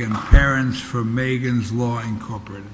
and parents for Megan's Law Incorporated.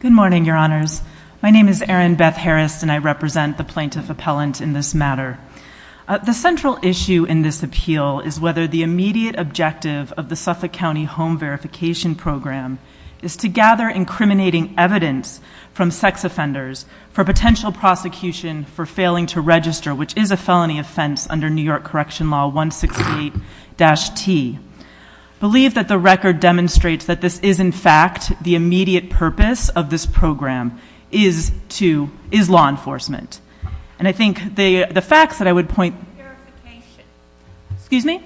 Good morning, your honors. My name is Erin Beth Harris and I represent the plaintiff appellant in this matter. The central issue in this appeal is whether the immediate objective of the Suffolk County Home Verification Program is to gather incriminating evidence from sex offenders for potential prosecution for failing to register, which is a felony offense under New York Correction Law 168-T. I believe that the record demonstrates that this is, in fact, the immediate purpose of this program is law enforcement. And I think the facts that I would point... Why isn't it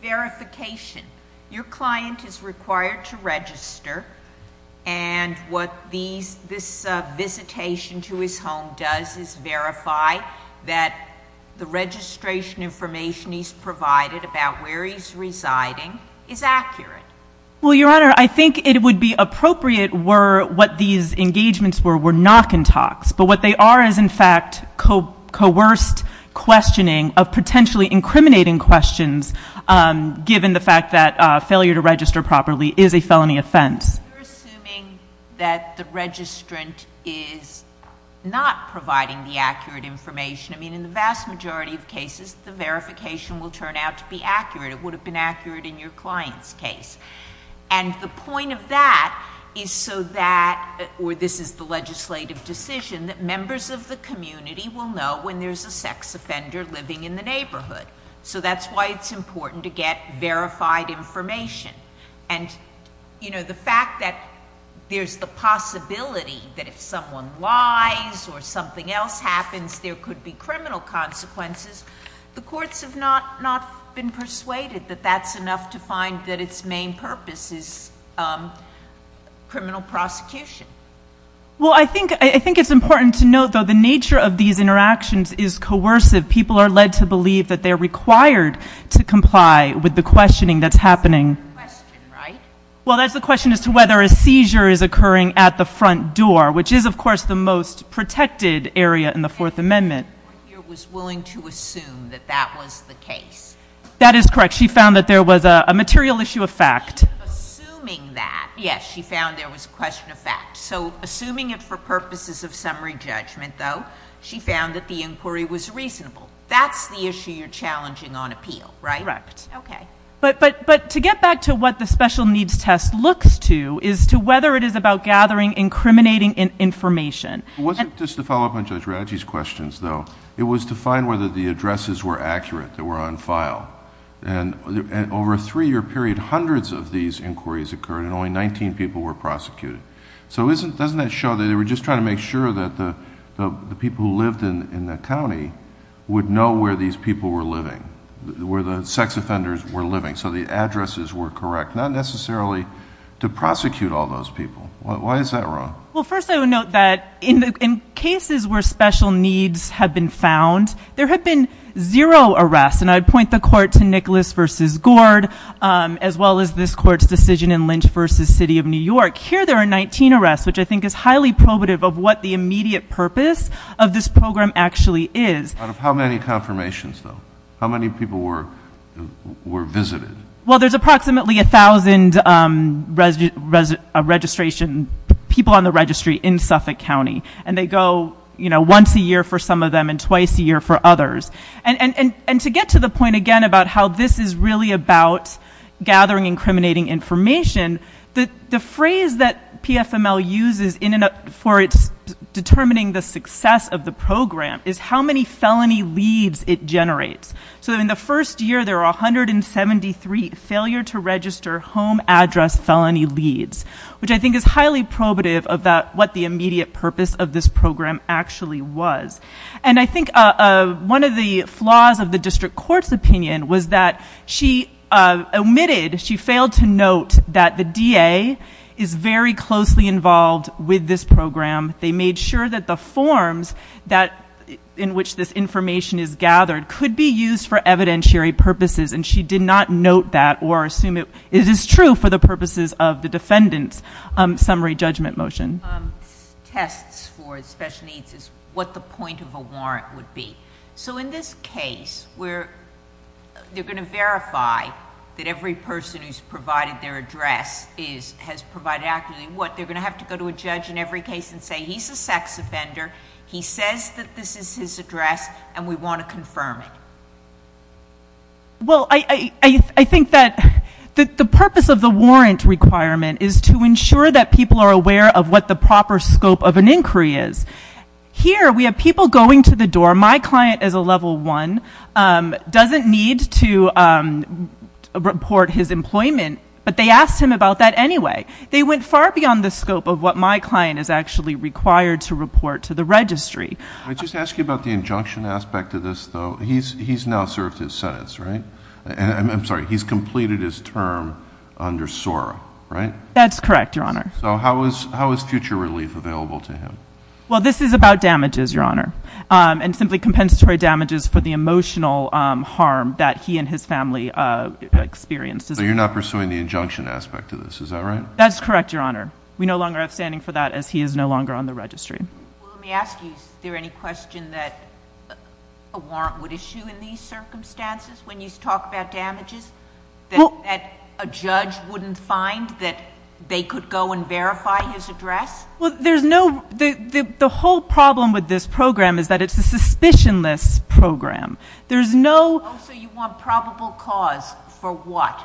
verification? Your client is required to register and what this visitation to his home does is verify that the registration information he's provided about where he's residing is accurate. Well, your honor, I think it would be appropriate were what these engagements were, were knock and talks. But what they are is, in fact, coerced questioning of potentially incriminating questions given the fact that failure to register properly is a felony offense. You're assuming that the registrant is not providing the accurate information. I mean, in the vast majority of cases, the verification will turn out to be accurate. It would have been accurate in your client's case. And the point of that is so that, or this is the legislative decision, that members of the community will know when there's a sex offender living in the neighborhood. So that's why it's important to get verified information. And the fact that there's the possibility that if someone lies or something else happens, there could be criminal consequences, the courts have not been persuaded that that's enough to find that its main purpose is criminal prosecution. Well, I think it's important to note, though, the nature of these interactions is coercive. People are led to believe that they're required to comply with the questioning that's happening. That's the question, right? Well, that's the question as to whether a seizure is occurring at the front door, which is, of course, the most protected area in the Fourth Amendment. The court here was willing to assume that that was the case. That is correct. She found that there was a material issue of fact. Assuming that, yes, she found there was a question of fact. So assuming it for purposes of summary judgment, though, she found that the inquiry was reasonable. That's the issue you're challenging on appeal, right? Correct. Okay. But to get back to what the special needs test looks to is to whether it is about gathering incriminating information. It wasn't just to follow up on Judge Radji's questions, though. It was to find whether the addresses were accurate that were on file. And over a three-year period, hundreds of these inquiries occurred, and only 19 people were prosecuted. So doesn't that show that they were just trying to make sure that the people who lived in the county would know where these people were living, where the sex offenders were living, so the addresses were correct? Not necessarily to prosecute all those people. Why is that wrong? Well, first I would note that in cases where special needs have been found, there have been zero arrests. And I'd point the Court to Nicholas v. Gord, as well as this Court's decision in Lynch v. City of New York. Here there are 19 arrests, which I think is highly probative of what the immediate purpose of this program actually is. Out of how many confirmations, though? How many people were visited? Well, there's approximately 1,000 people on the registry in Suffolk County. And they go once a year for some of them and twice a year for others. And to get to the point again about how this is really about gathering incriminating information, the phrase that PFML uses for determining the success of the program is how many felony leads it generates. So in the first year there were 173 failure to register home address felony leads, which I think is highly probative of what the immediate purpose of this program actually was. And I think one of the flaws of the District Court's opinion was that she omitted, she failed to note that the DA is very closely involved with this program. They made sure that the forms in which this information is gathered could be used for evidentiary purposes. And she did not note that or assume it is true for the purposes of the defendant's summary judgment motion. Tests for special needs is what the point of a warrant would be. So in this case, they're going to verify that every person who's provided their address has provided accurately what. They're going to have to go to a judge in every case and say he's a sex offender, he says that this is his address, and we want to confirm it. Well, I think that the purpose of the warrant requirement is to ensure that people are aware of what the proper scope of an inquiry is. Here we have people going to the door, my client is a level one, doesn't need to report his employment, but they asked him about that anyway. They went far beyond the scope of what my client is actually required to report to the registry. Can I just ask you about the injunction aspect of this, though? He's now served his sentence, right? I'm sorry, he's completed his term under SORA, right? That's correct, Your Honor. So how is future relief available to him? Well, this is about damages, Your Honor, and simply compensatory damages for the emotional harm that he and his family experienced. So you're not pursuing the injunction aspect of this, is that right? That's correct, Your Honor. We no longer have standing for that as he is no longer on the registry. Well, let me ask you, is there any question that a warrant would issue in these circumstances when you talk about damages that a judge wouldn't find that they could go and verify his address? The whole problem with this program is that it's a suspicionless program. Oh, so you want probable cause for what?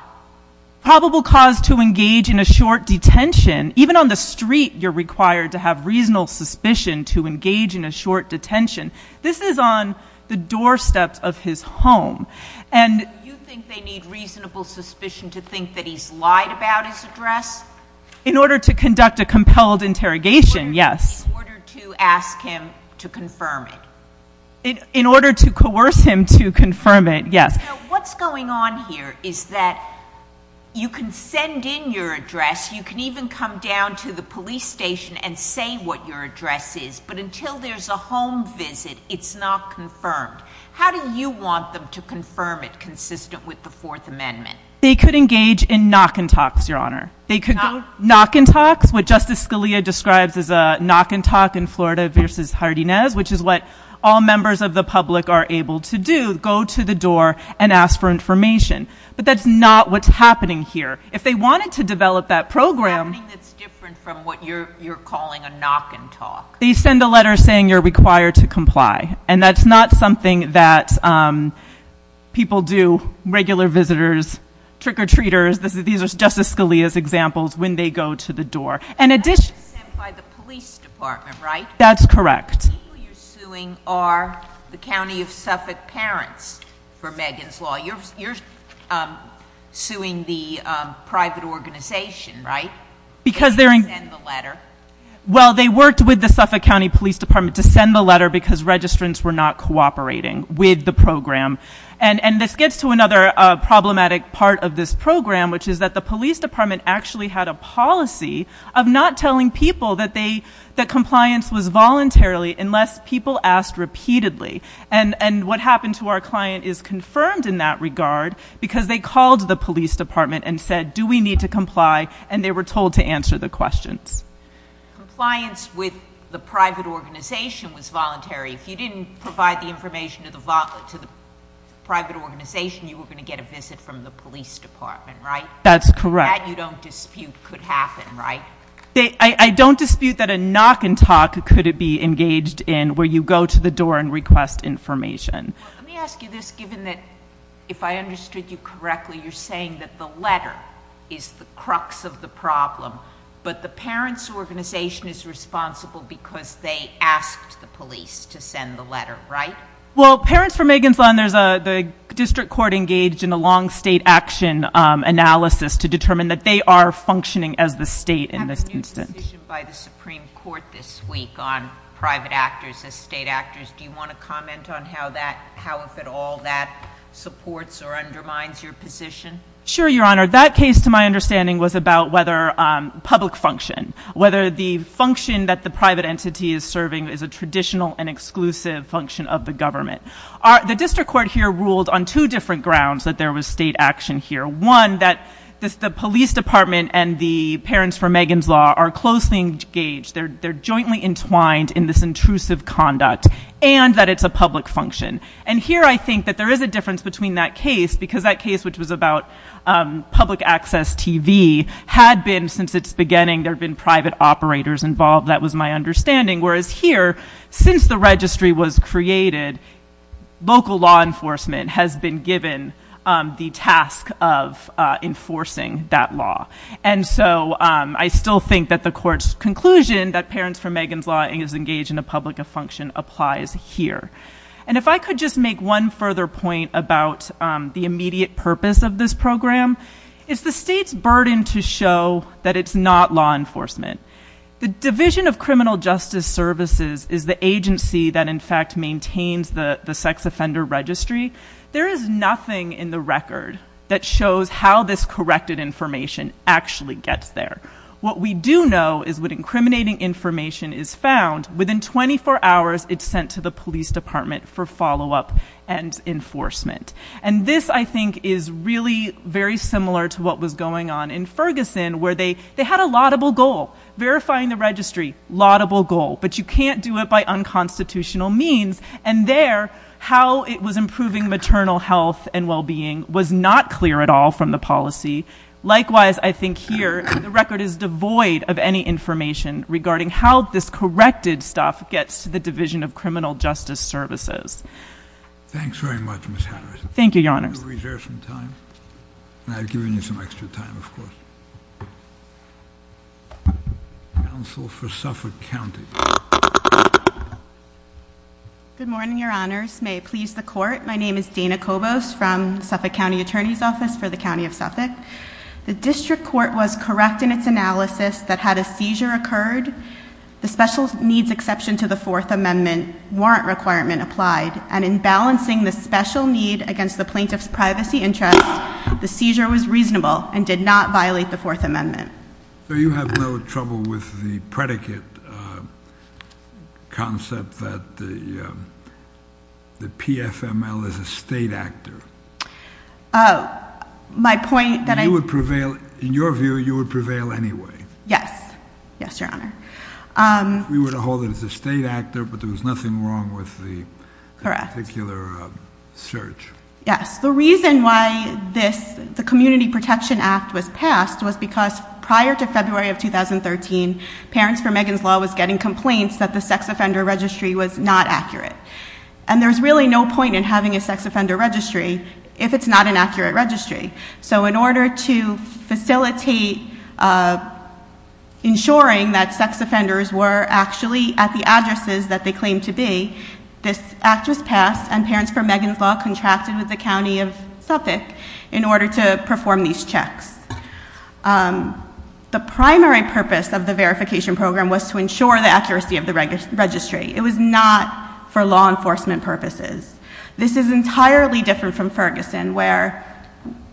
Probable cause to engage in a short detention. Even on the street, you're required to have reasonable suspicion to engage in a short detention. This is on the doorsteps of his home. So you think they need reasonable suspicion to think that he's lied about his address? In order to conduct a compelled interrogation, yes. In order to ask him to confirm it. In order to coerce him to confirm it, yes. What's going on here is that you can send in your address, you can even come down to the police station and say what your address is, but until there's a home visit, it's not confirmed. How do you want them to confirm it consistent with the Fourth Amendment? They could engage in knock and talks, Your Honor. Knock and talks? What Justice Scalia describes as a knock and talk in Florida v. Hardines, which is what all members of the public are able to do, go to the door and ask for information. But that's not what's happening here. If they wanted to develop that program, What's happening that's different from what you're calling a knock and talk? They send a letter saying you're required to comply. And that's not something that people do, regular visitors, trick-or-treaters. These are Justice Scalia's examples when they go to the door. And that's sent by the police department, right? That's correct. The people you're suing are the County of Suffolk parents for Megan's Law. You're suing the private organization, right? Well, they worked with the Suffolk County Police Department to send the letter because registrants were not cooperating with the program. And this gets to another problematic part of this program, which is that the police department actually had a policy of not telling people that compliance was voluntarily unless people asked repeatedly. And what happened to our client is confirmed in that regard because they called the police department and said, do we need to comply? And they were told to answer the questions. Compliance with the private organization was voluntary. If you didn't provide the information to the private organization, you were going to get a visit from the police department, right? That's correct. That you don't dispute could happen, right? I don't dispute that a knock and talk could be engaged in where you go to the door and request information. Let me ask you this, given that if I understood you correctly, you're saying that the letter is the crux of the problem, but the parent's organization is responsible because they asked the police to send the letter, right? Well, parents for Megan's Law, the district court engaged in a long state action analysis to determine that they are functioning as the state in this instance. I have a new position by the Supreme Court this week on private actors as state actors. Do you want to comment on how, if at all, that supports or undermines your position? Sure, Your Honor. That case, to my understanding, was about whether public function, whether the function that the private entity is serving is a traditional and exclusive function of the government. The district court here ruled on two different grounds that there was state action here. One, that the police department and the parents for Megan's Law are closely engaged. They're jointly entwined in this intrusive conduct, and that it's a public function. And here I think that there is a difference between that case, because that case, which was about public access TV, had been, since its beginning, there have been private operators involved. That was my understanding. Whereas here, since the registry was created, local law enforcement has been given the task of enforcing that law. And so I still think that the court's conclusion, that parents for Megan's Law is engaged in a public function, applies here. And if I could just make one further point about the immediate purpose of this program, it's the state's burden to show that it's not law enforcement. The Division of Criminal Justice Services is the agency that, in fact, maintains the sex offender registry. There is nothing in the record that shows how this corrected information actually gets there. What we do know is when incriminating information is found, within 24 hours it's sent to the police department for follow-up and enforcement. And this, I think, is really very similar to what was going on in Ferguson, where they had a laudable goal, verifying the registry, laudable goal. But you can't do it by unconstitutional means. And there, how it was improving maternal health and well-being was not clear at all from the policy. Likewise, I think here, the record is devoid of any information regarding how this corrected stuff gets to the Division of Criminal Justice Services. Thanks very much, Ms. Harris. Thank you, Your Honors. I'm going to reserve some time. And I've given you some extra time, of course. Counsel for Suffolk County. Good morning, Your Honors. May it please the Court. My name is Dana Kobos from Suffolk County Attorney's Office for the County of Suffolk. The District Court was correct in its analysis that had a seizure occurred, the special needs exception to the Fourth Amendment warrant requirement applied, and in balancing the special need against the plaintiff's privacy interest, the seizure was reasonable and did not violate the Fourth Amendment. So you have no trouble with the predicate concept that the PFML is a state actor? In your view, you would prevail anyway? Yes. Yes, Your Honor. We would hold it as a state actor, but there was nothing wrong with the particular search? Correct. Yes. The reason why the Community Protection Act was passed was because prior to February of 2013, Parents for Megan's Law was getting complaints that the sex offender registry was not accurate. And there's really no point in having a sex offender registry if it's not an accurate registry. So in order to facilitate ensuring that sex offenders were actually at the addresses that they claimed to be, this act was passed and Parents for Megan's Law contracted with the County of Suffolk in order to perform these checks. The primary purpose of the verification program was to ensure the accuracy of the registry. It was not for law enforcement purposes. This is entirely different from Ferguson, where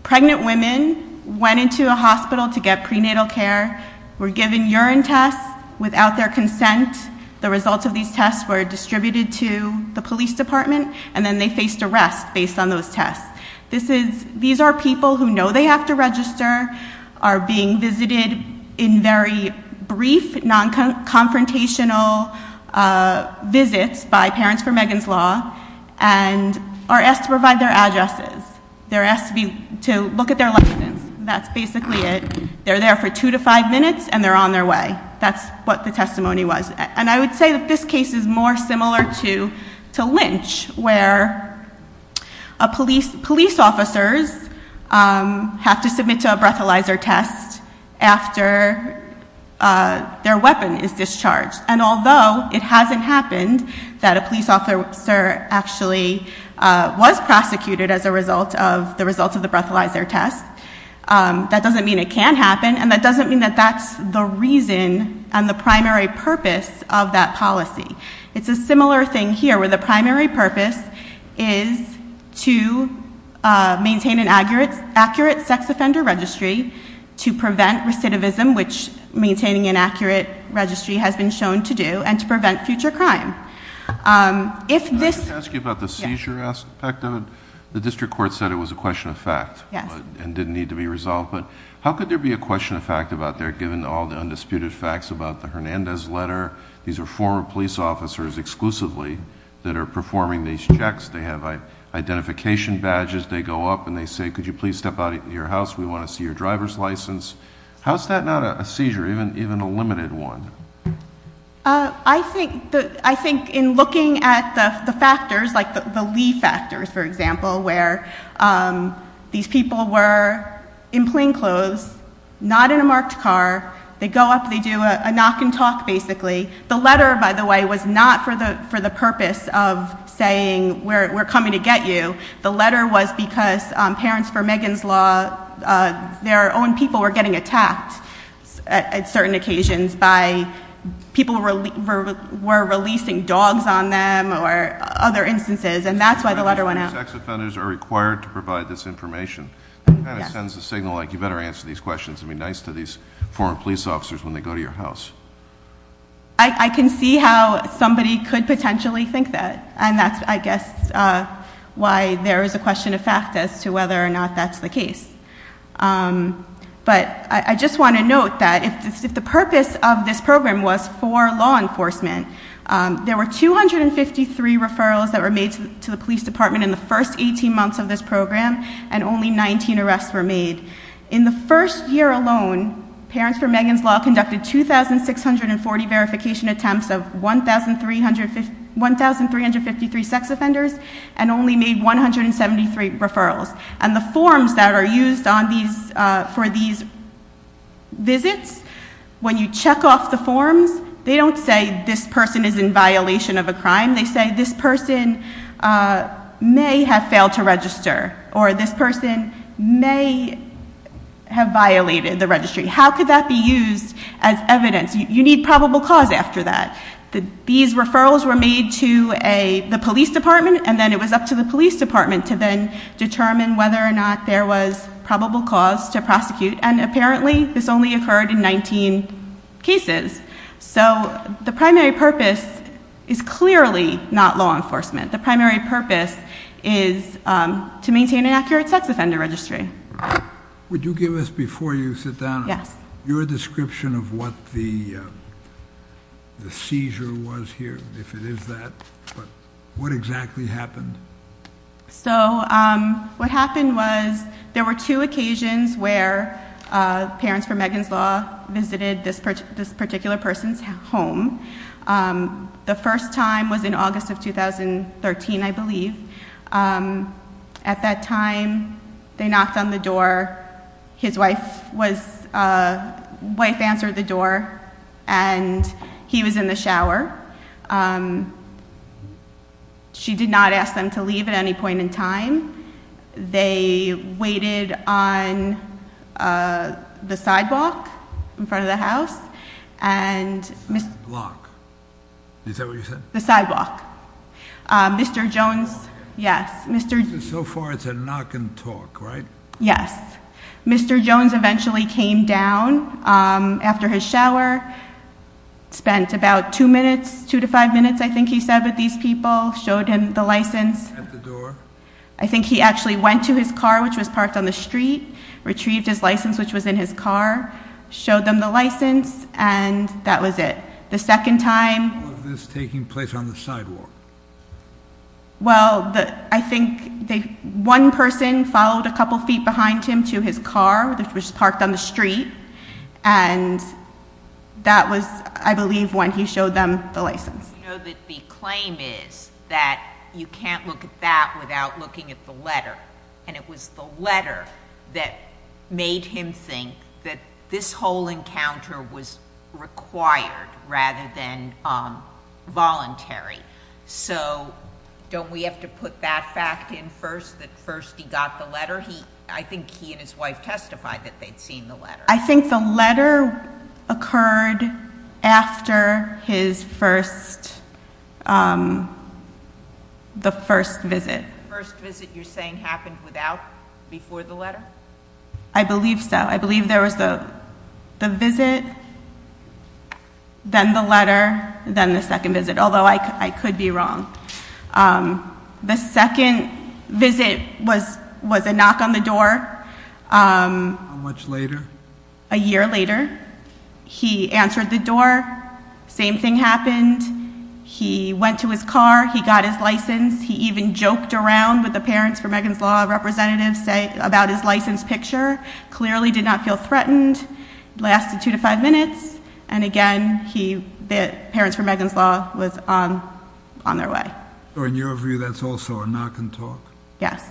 pregnant women went into a hospital to get prenatal care, were given urine tests without their consent, the results of these tests were distributed to the police department, and then they faced arrest based on those tests. These are people who know they have to register, are being visited in very brief, non-confrontational visits by Parents for Megan's Law, and are asked to provide their addresses. They're asked to look at their license. That's basically it. They're there for two to five minutes, and they're on their way. That's what the policy is about. It's a situation where police officers have to submit to a breathalyzer test after their weapon is discharged. And although it hasn't happened that a police officer actually was prosecuted as a result of the breathalyzer test, that doesn't mean it can't happen, and that doesn't mean that that's the reason and the primary purpose of that policy. It's a similar thing here, where the primary purpose is to maintain an accurate sex offender registry, to prevent recidivism, which maintaining an accurate registry has been shown to do, and to prevent future crime. Can I ask you about the seizure aspect of it? The district court said it was a question of fact, and didn't need to be resolved, but how could there be a question of fact about there, given all the undisputed facts about the Hernandez letter? These are former police officers exclusively that are performing these checks. They have identification badges. They go up and they say, could you please step out of your house? We want to see your driver's license. How is that not a seizure, even a limited one? I think in looking at the factors, like the Lee factors, for example, where these people were in plain clothes, not in a marked car. They go up, they do a knock and talk, basically. The letter, by the way, was not for the purpose of saying we're coming to get you. The letter was because parents for Megan's Law, their own people were getting attacked at certain occasions by people who were releasing dogs on them or other instances, and that's why the letter went out. Sex offenders are required to provide this information. It kind of sends a signal like you better answer these questions and be nice to these former police officers when they go to your house. I can see how somebody could potentially think that, and that's, I guess, why there is a question of fact as to whether or not that's the case. But I just want to note that if the purpose of this program was for law enforcement, there were 253 referrals that were made to the police department in the first 18 months of this program, and only 19 arrests were made. In the first year alone, Parents for Megan's Law conducted 2,640 verification attempts of 1,353 sex offenders and only made 173 referrals. And the forms that are used for these visits, when you check off the forms, they don't say this person is in violation of a crime. They say this person may have failed to register, or this person may have violated the registry. How could that be used as evidence? You need probable cause after that. These referrals were made to the police department, and then it was up to the police department to then determine whether or not there was probable cause to prosecute, and apparently this only occurred in 19 cases. So the primary purpose is clearly not law enforcement. The primary purpose is to maintain an accurate sex offender registry. Would you give us, before you sit down, your description of what the seizure was here, if it is that? What exactly happened? So what happened was there were two occasions where Parents for Megan's Law visited this particular person's home. The first time was in August of 2013, I believe. At that time, they knocked on the door. His wife answered the door, and he was in the shower. She did not ask them to leave at any point in time. They waited on the sidewalk in front of the house. The block? Is that what you said? The sidewalk. Mr. Jones, yes. So far it's a knock and talk, right? Yes. Mr. Jones eventually came down after his shower, spent about two minutes, two to five minutes, I think he said, with these people, showed him the license. At the door? I think he actually went to his car, which was parked on the street, retrieved his license, which was in his car, showed them the license, and that was it. The second time... All of this taking place on the sidewalk? Well, I think one person followed a couple feet behind him to his car, which was parked on the street, and that was, I believe, when he showed them the license. You know that the claim is that you can't look at that without looking at the letter, and it was the letter that made him think that this whole encounter was required rather than voluntary. So don't we have to put that fact in first, that first he got the letter? I think he and his wife testified that they'd seen the letter. I think the letter occurred after his first, the first visit. The first visit you're saying happened without, before the letter? I believe so. I believe there was the visit, then the letter, then the second visit, although I could be wrong. How much later? A year later. He answered the door. Same thing happened. He went to his car. He got his license. He even joked around with the Parents for Megan's Law representatives about his license picture. Clearly did not feel threatened. It lasted two to five minutes, and again, the Parents for Megan's Law was on their way. In your view, that's also a knock and talk? Yes.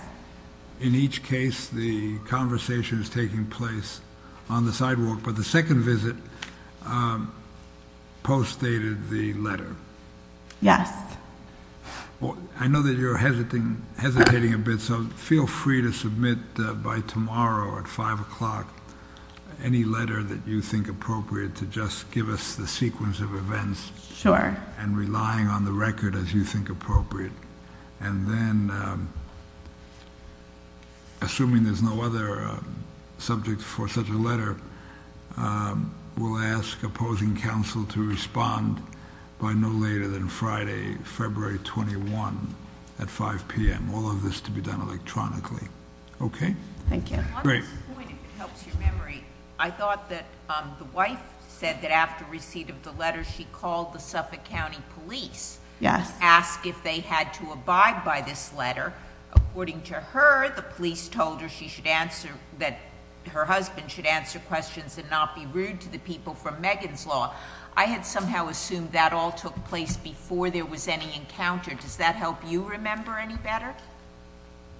In each case, the conversation is taking place on the sidewalk, but the second visit postdated the letter. Yes. I know that you're hesitating a bit, so feel free to submit by tomorrow at five o'clock any letter that you think appropriate to just give us the sequence of events and relying on the record as you think appropriate. Assuming there's no other subject for such a letter, we'll ask opposing counsel to respond by no later than Friday, February 21 at five p.m. All of this to be done electronically. On this point, if it helps your memory, I thought that the wife said that after receipt of the letter, she called the Suffolk County Police to ask if they had to abide by this letter. According to her, the police told her that her husband should answer questions and not be rude to the people from Megan's Law. I had somehow assumed that all took place before there was any encounter. Does that help you remember any better?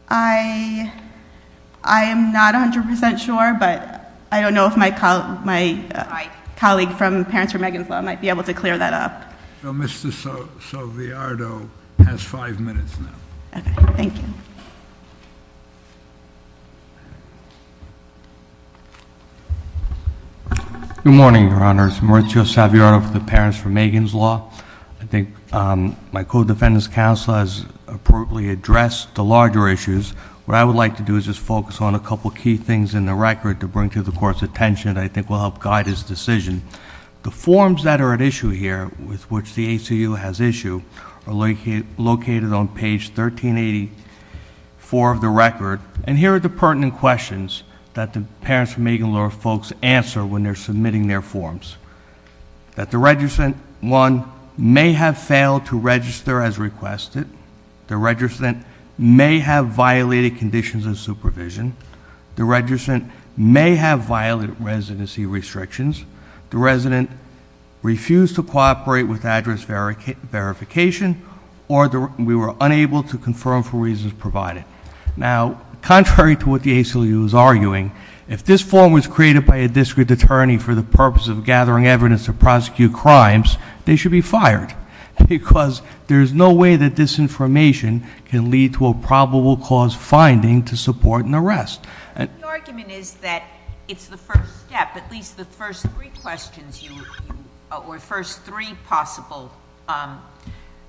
I am not 100% sure, but I don't know if my colleague from Parents for Megan's Law might be able to clear that up. Mr. Saviardo has five minutes now. Good morning, Your Honors. I'm Mauricio Saviardo from the Parents for Megan's Law. I think my co-defendant's counsel has appropriately addressed the larger issues. What I would like to do is just focus on a couple of key things in the record to bring to the Court's attention that I think will help guide his decision. The forms that are at issue here with which the ACU has issued are located on page 1384 of the record. Here are the pertinent questions that the Parents for Megan's Law folks answer when they're submitting their forms. The resident, one, may have failed to register as requested. The resident may have violated conditions of supervision. The resident may have violated residency restrictions. The resident refused to cooperate with address verification, or we were unable to confirm for reasons provided. Now, contrary to what the ACLU is arguing, if this form was created by a district attorney for the purpose of gathering evidence to prosecute crimes, they should be fired, because there is no way that this information can lead to a probable cause finding to support an arrest. The argument is that it's the first step, at least the first three questions, or first three possible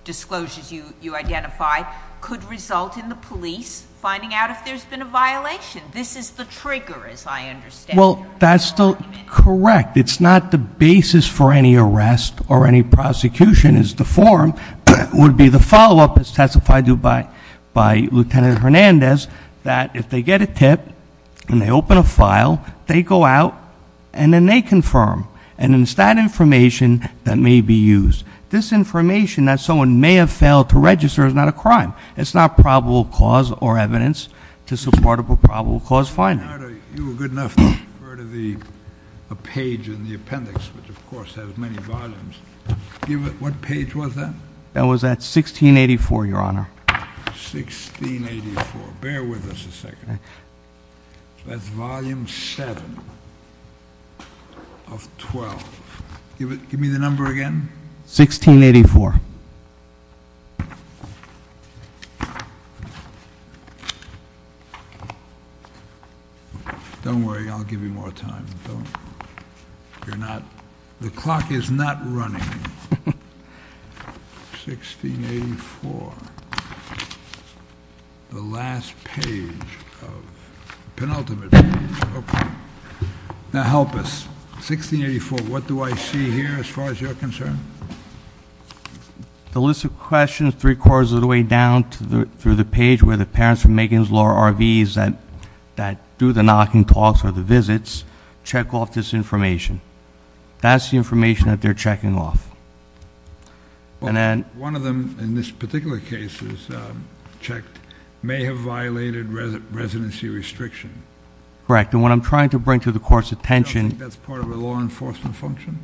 disclosures you identify, could result in the police finding out if there's been a violation. This is the trigger, as I understand it. Well, that's correct. It's not the basis for any arrest or any prosecution. It's the form would be the follow-up, as testified to by Lieutenant Hernandez, that if they get a tip and they open a file, they go out and then they confirm. And it's that information that may be used. This information that someone may have failed to register is not a crime. It's not probable cause or evidence to support a probable cause finding. Your Honor, you were good enough to refer to the page in the appendix, which of course has many volumes. What page was that? That was at 1684, Your Honor. 1684. Bear with us a second. That's Volume 7 of 12. Give me the number again. 1684. Don't worry, I'll give you more time. The clock is not running. 1684. The last page of the penultimate page. Now help us. 1684, what do I see here as far as you're concerned? The list of questions is three-quarters of the way down through the page where the court is going to check off this information. That's the information that they're checking off. One of them in this particular case is checked, may have violated residency restriction. Correct. And what I'm trying to bring to the court's attention... You don't think that's part of a law enforcement function?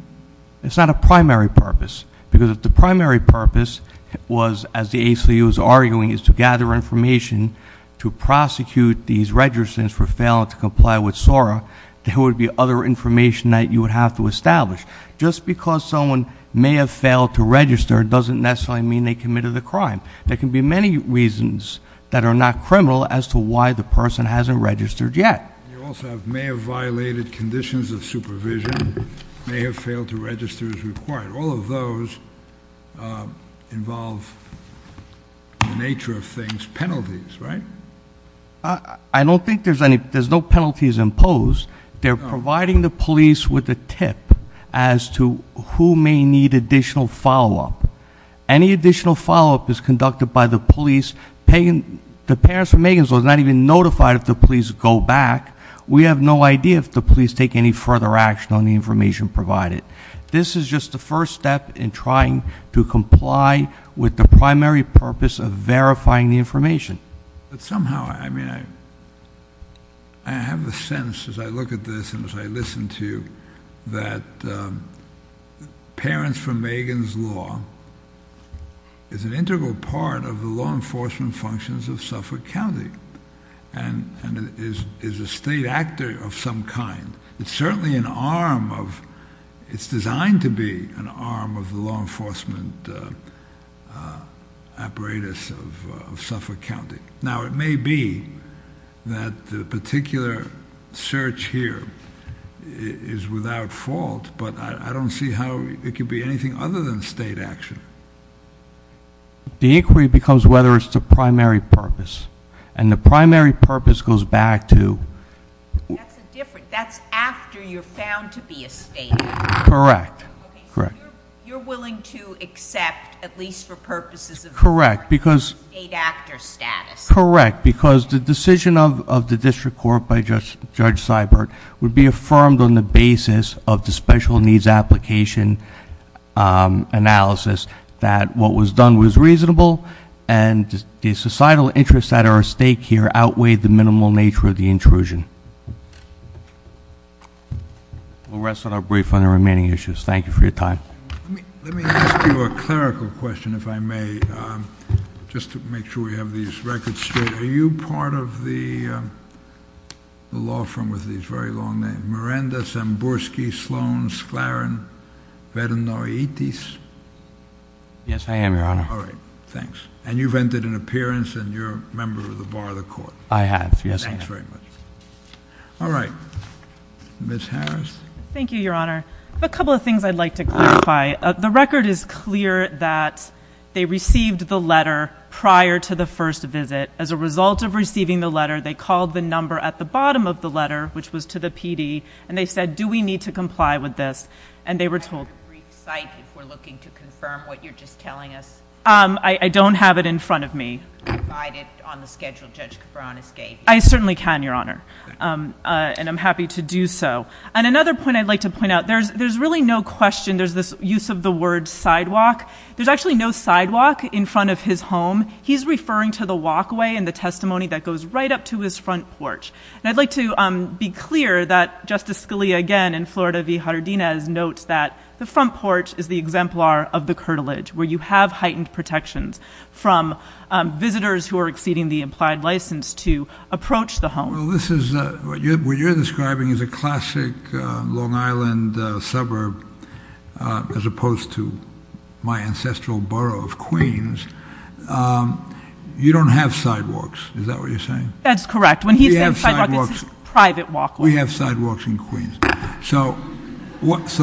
It's not a primary purpose. Because if the primary purpose was, as the ACLU is arguing, is to gather information to prosecute these registrants for failing to comply with SORA, there would be other information that you would have to establish. Just because someone may have failed to register doesn't necessarily mean they committed a crime. There can be many reasons that are not criminal as to why the person hasn't registered yet. You also have may have violated conditions of supervision, may have failed to register as required. All of those involve, in the nature of things, penalties, right? I don't think there's any. There's no penalties imposed. They're providing the police with a tip as to who may need additional follow-up. Any additional follow-up is conducted by the police. The parents of Megan's was not even notified if the police would go back. We have no idea if the police take any further action on the information provided. This is just the first step in trying to comply with the primary purpose of verifying the information. Somehow, I mean, I have a sense as I look at this and as I listen to you, that parents for Megan's law is an integral part of the law enforcement functions of Suffolk County and is a state actor of some kind. It's certainly an arm of, it's designed to be an arm of the law enforcement apparatus of Suffolk County. Now it may be that the particular search here is without fault, but I don't see how it could be anything other than state action. The inquiry becomes whether it's the primary purpose. And the primary purpose goes back to... That's after you're found to be a state actor. Correct. You're willing to accept at least for purposes of state actor status. Correct, because the decision of the district court by Judge Seibert would be affirmed on the basis that what was done was reasonable and the societal interest at our stake here outweighed the minimal nature of the intrusion. We'll rest on our brief on the remaining issues. Thank you for your time. Let me ask you a clerical question, if I may, just to make sure we have these records straight. Are you part of the law firm with these very long names, Miranda, Samborski, Sloan, Sklaren, Veranoitis? Yes, I am, Your Honor. All right, thanks. And you've entered an appearance and you're a member of the Bar of the Court. I have, yes. Thanks very much. All right. Ms. Harris. Thank you, Your Honor. A couple of things I'd like to clarify. The record is clear that they received the letter prior to the first visit. As a result of receiving the letter, they called the number at the bottom of the letter, which was to the PD, and they said, do we need to comply with this? And they were told... Do you have a brief site if we're looking to confirm what you're just telling us? I don't have it in front of me. Can you provide it on the schedule Judge Cabran escaped? I certainly can, Your Honor, and I'm happy to do so. And another point I'd like to point out, there's really no question, there's this use of the word sidewalk. There's actually no sidewalk in front of his home. He's referring to the walkway and the testimony that goes right up to his front porch. And I'd like to be clear that Justice Scalia, again, in Florida v. Jardines notes that the front porch is the exemplar of the curtilage, where you have heightened protections from visitors who are exceeding the implied license to approach the home. Well, this is what you're describing as a my ancestral borough of Queens. You don't have sidewalks. Is that what you're saying? That's correct. When he said sidewalk, it's his private walkway. We have sidewalks in Queens. So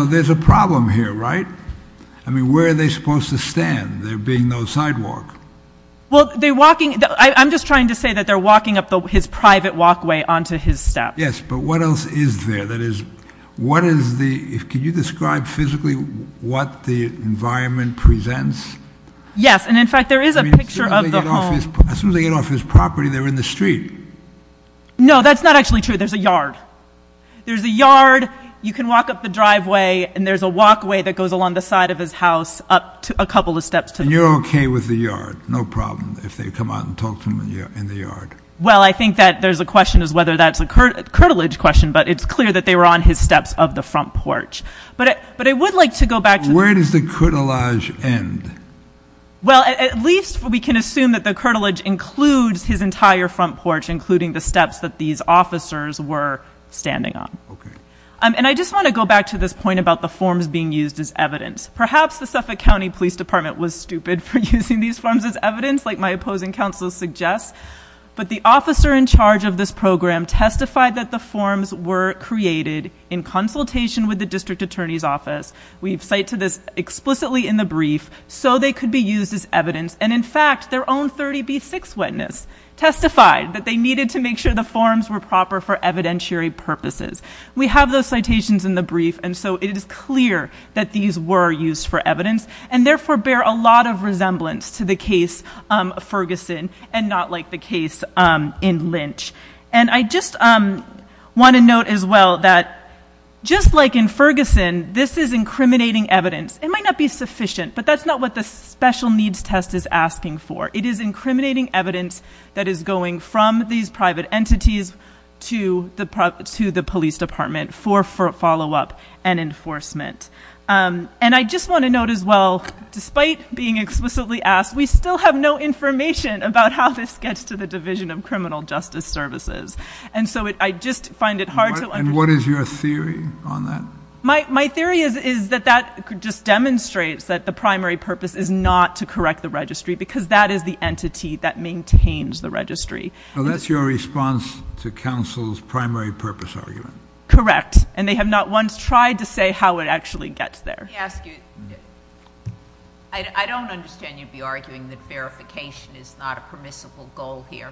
there's a problem here, right? I mean, where are they supposed to stand, there being no sidewalk? I'm just trying to say that they're walking up his private walkway onto his step. Yes, but what else is there? Can you describe physically what the environment presents? Yes, and in fact, there is a picture of the home. As soon as they get off his property, they're in the street. No, that's not actually true. There's a yard. There's a yard. You can walk up the driveway, and there's a walkway that goes along the side of his house up a couple of steps. And you're okay with the yard? No problem if they come out and talk to him in the yard. Well, I think that there's a question as whether that's a curtilage question, but it's clear that they were on his steps of the front porch. But I would like to go back to... Where does the curtilage end? Well, at least we can assume that the curtilage includes his entire front porch, including the steps that these officers were standing on. Okay. And I just want to go back to this point about the forms being used as evidence. Perhaps the Suffolk County Police Department was stupid for using these forms as evidence, like my opposing counsel suggests, but the officer in charge of this program testified that the forms were created in consultation with the district attorney's office. We cite to this explicitly in the brief, so they could be used as evidence. And in fact, their own 30B6 witness testified that they needed to make sure the forms were proper for evidentiary purposes. We have those citations in the brief, and so it is clear that these were used for evidence, and therefore bear a lot of resemblance to the case of Ferguson and not like the case in Lynch. And I just want to note as well that just like in Ferguson, this is incriminating evidence. It might not be sufficient, but that's not what the special needs test is asking for. It is incriminating evidence that is going from these private entities to the police department for follow-up and enforcement. And I just want to note as well, despite being explicitly asked, we still have no information about how this gets to the Division of Criminal Justice Services. And so I just find it hard to... And what is your theory on that? My theory is that that just demonstrates that the primary purpose is not to correct the registry because that is the entity that maintains the registry. Well, that's your response to counsel's primary purpose argument. Correct. And they have not once tried to say how it actually gets there. Let me ask you. I don't understand you'd be arguing that verification is not a permissible goal here.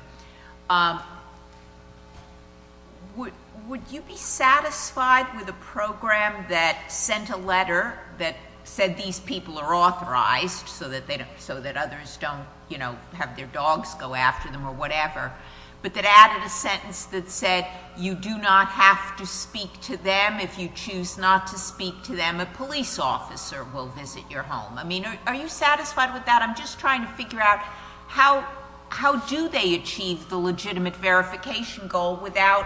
Would you be satisfied with a program that sent a letter that said these people are authorized so that others don't, you know, have their dogs go after them or whatever, but that added a sentence that said you do not have to speak to them. If you choose not to speak to them, a police officer will visit your home. I mean, are you satisfied with that? I'm just trying to figure out how do they achieve the legitimate verification goal without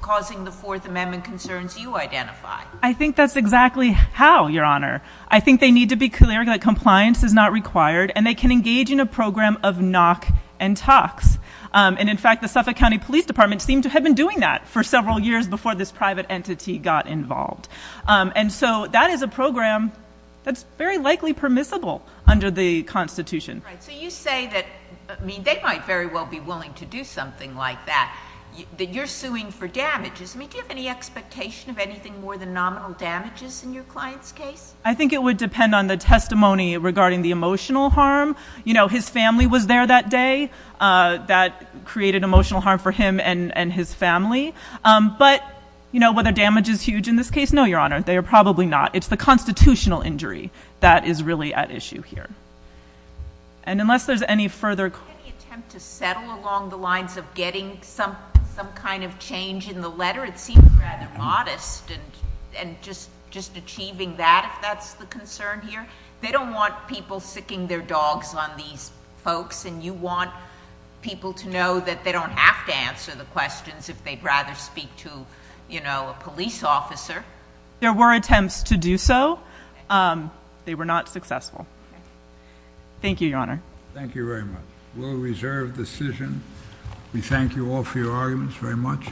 causing the Fourth Amendment concerns you identify. I think that's exactly how, Your Honor. I think they need to be clear that compliance is not required and they can engage in a program of knock and talks. And in fact, the Suffolk County Police Department seemed to have been doing that for several years before this private entity got involved. And so that is a program that's very likely permissible under the Constitution. So you say that they might very well be willing to do something like that, that you're suing for damages. Do you have any expectation of anything more than nominal damages in your client's case? I think it would depend on the testimony regarding the emotional harm. You know, his family was there that day that created emotional harm for him and his family. But, you know, whether damage is huge in this case, no, Your Honor, they are probably not. It's the constitutional injury that is really at issue here. And unless there's any further... Any attempt to settle along the lines of getting some kind of change in the letter? It seems rather modest. And just achieving that, if that's the concern here. They don't want people siccing their dogs on these folks. And you want people to know that they don't have to answer the questions if they'd rather speak to, you know, a police officer. There were attempts to do so. They were not successful. Thank you, Your Honor. Thank you very much. We'll reserve the decision. We thank you all for your arguments very much.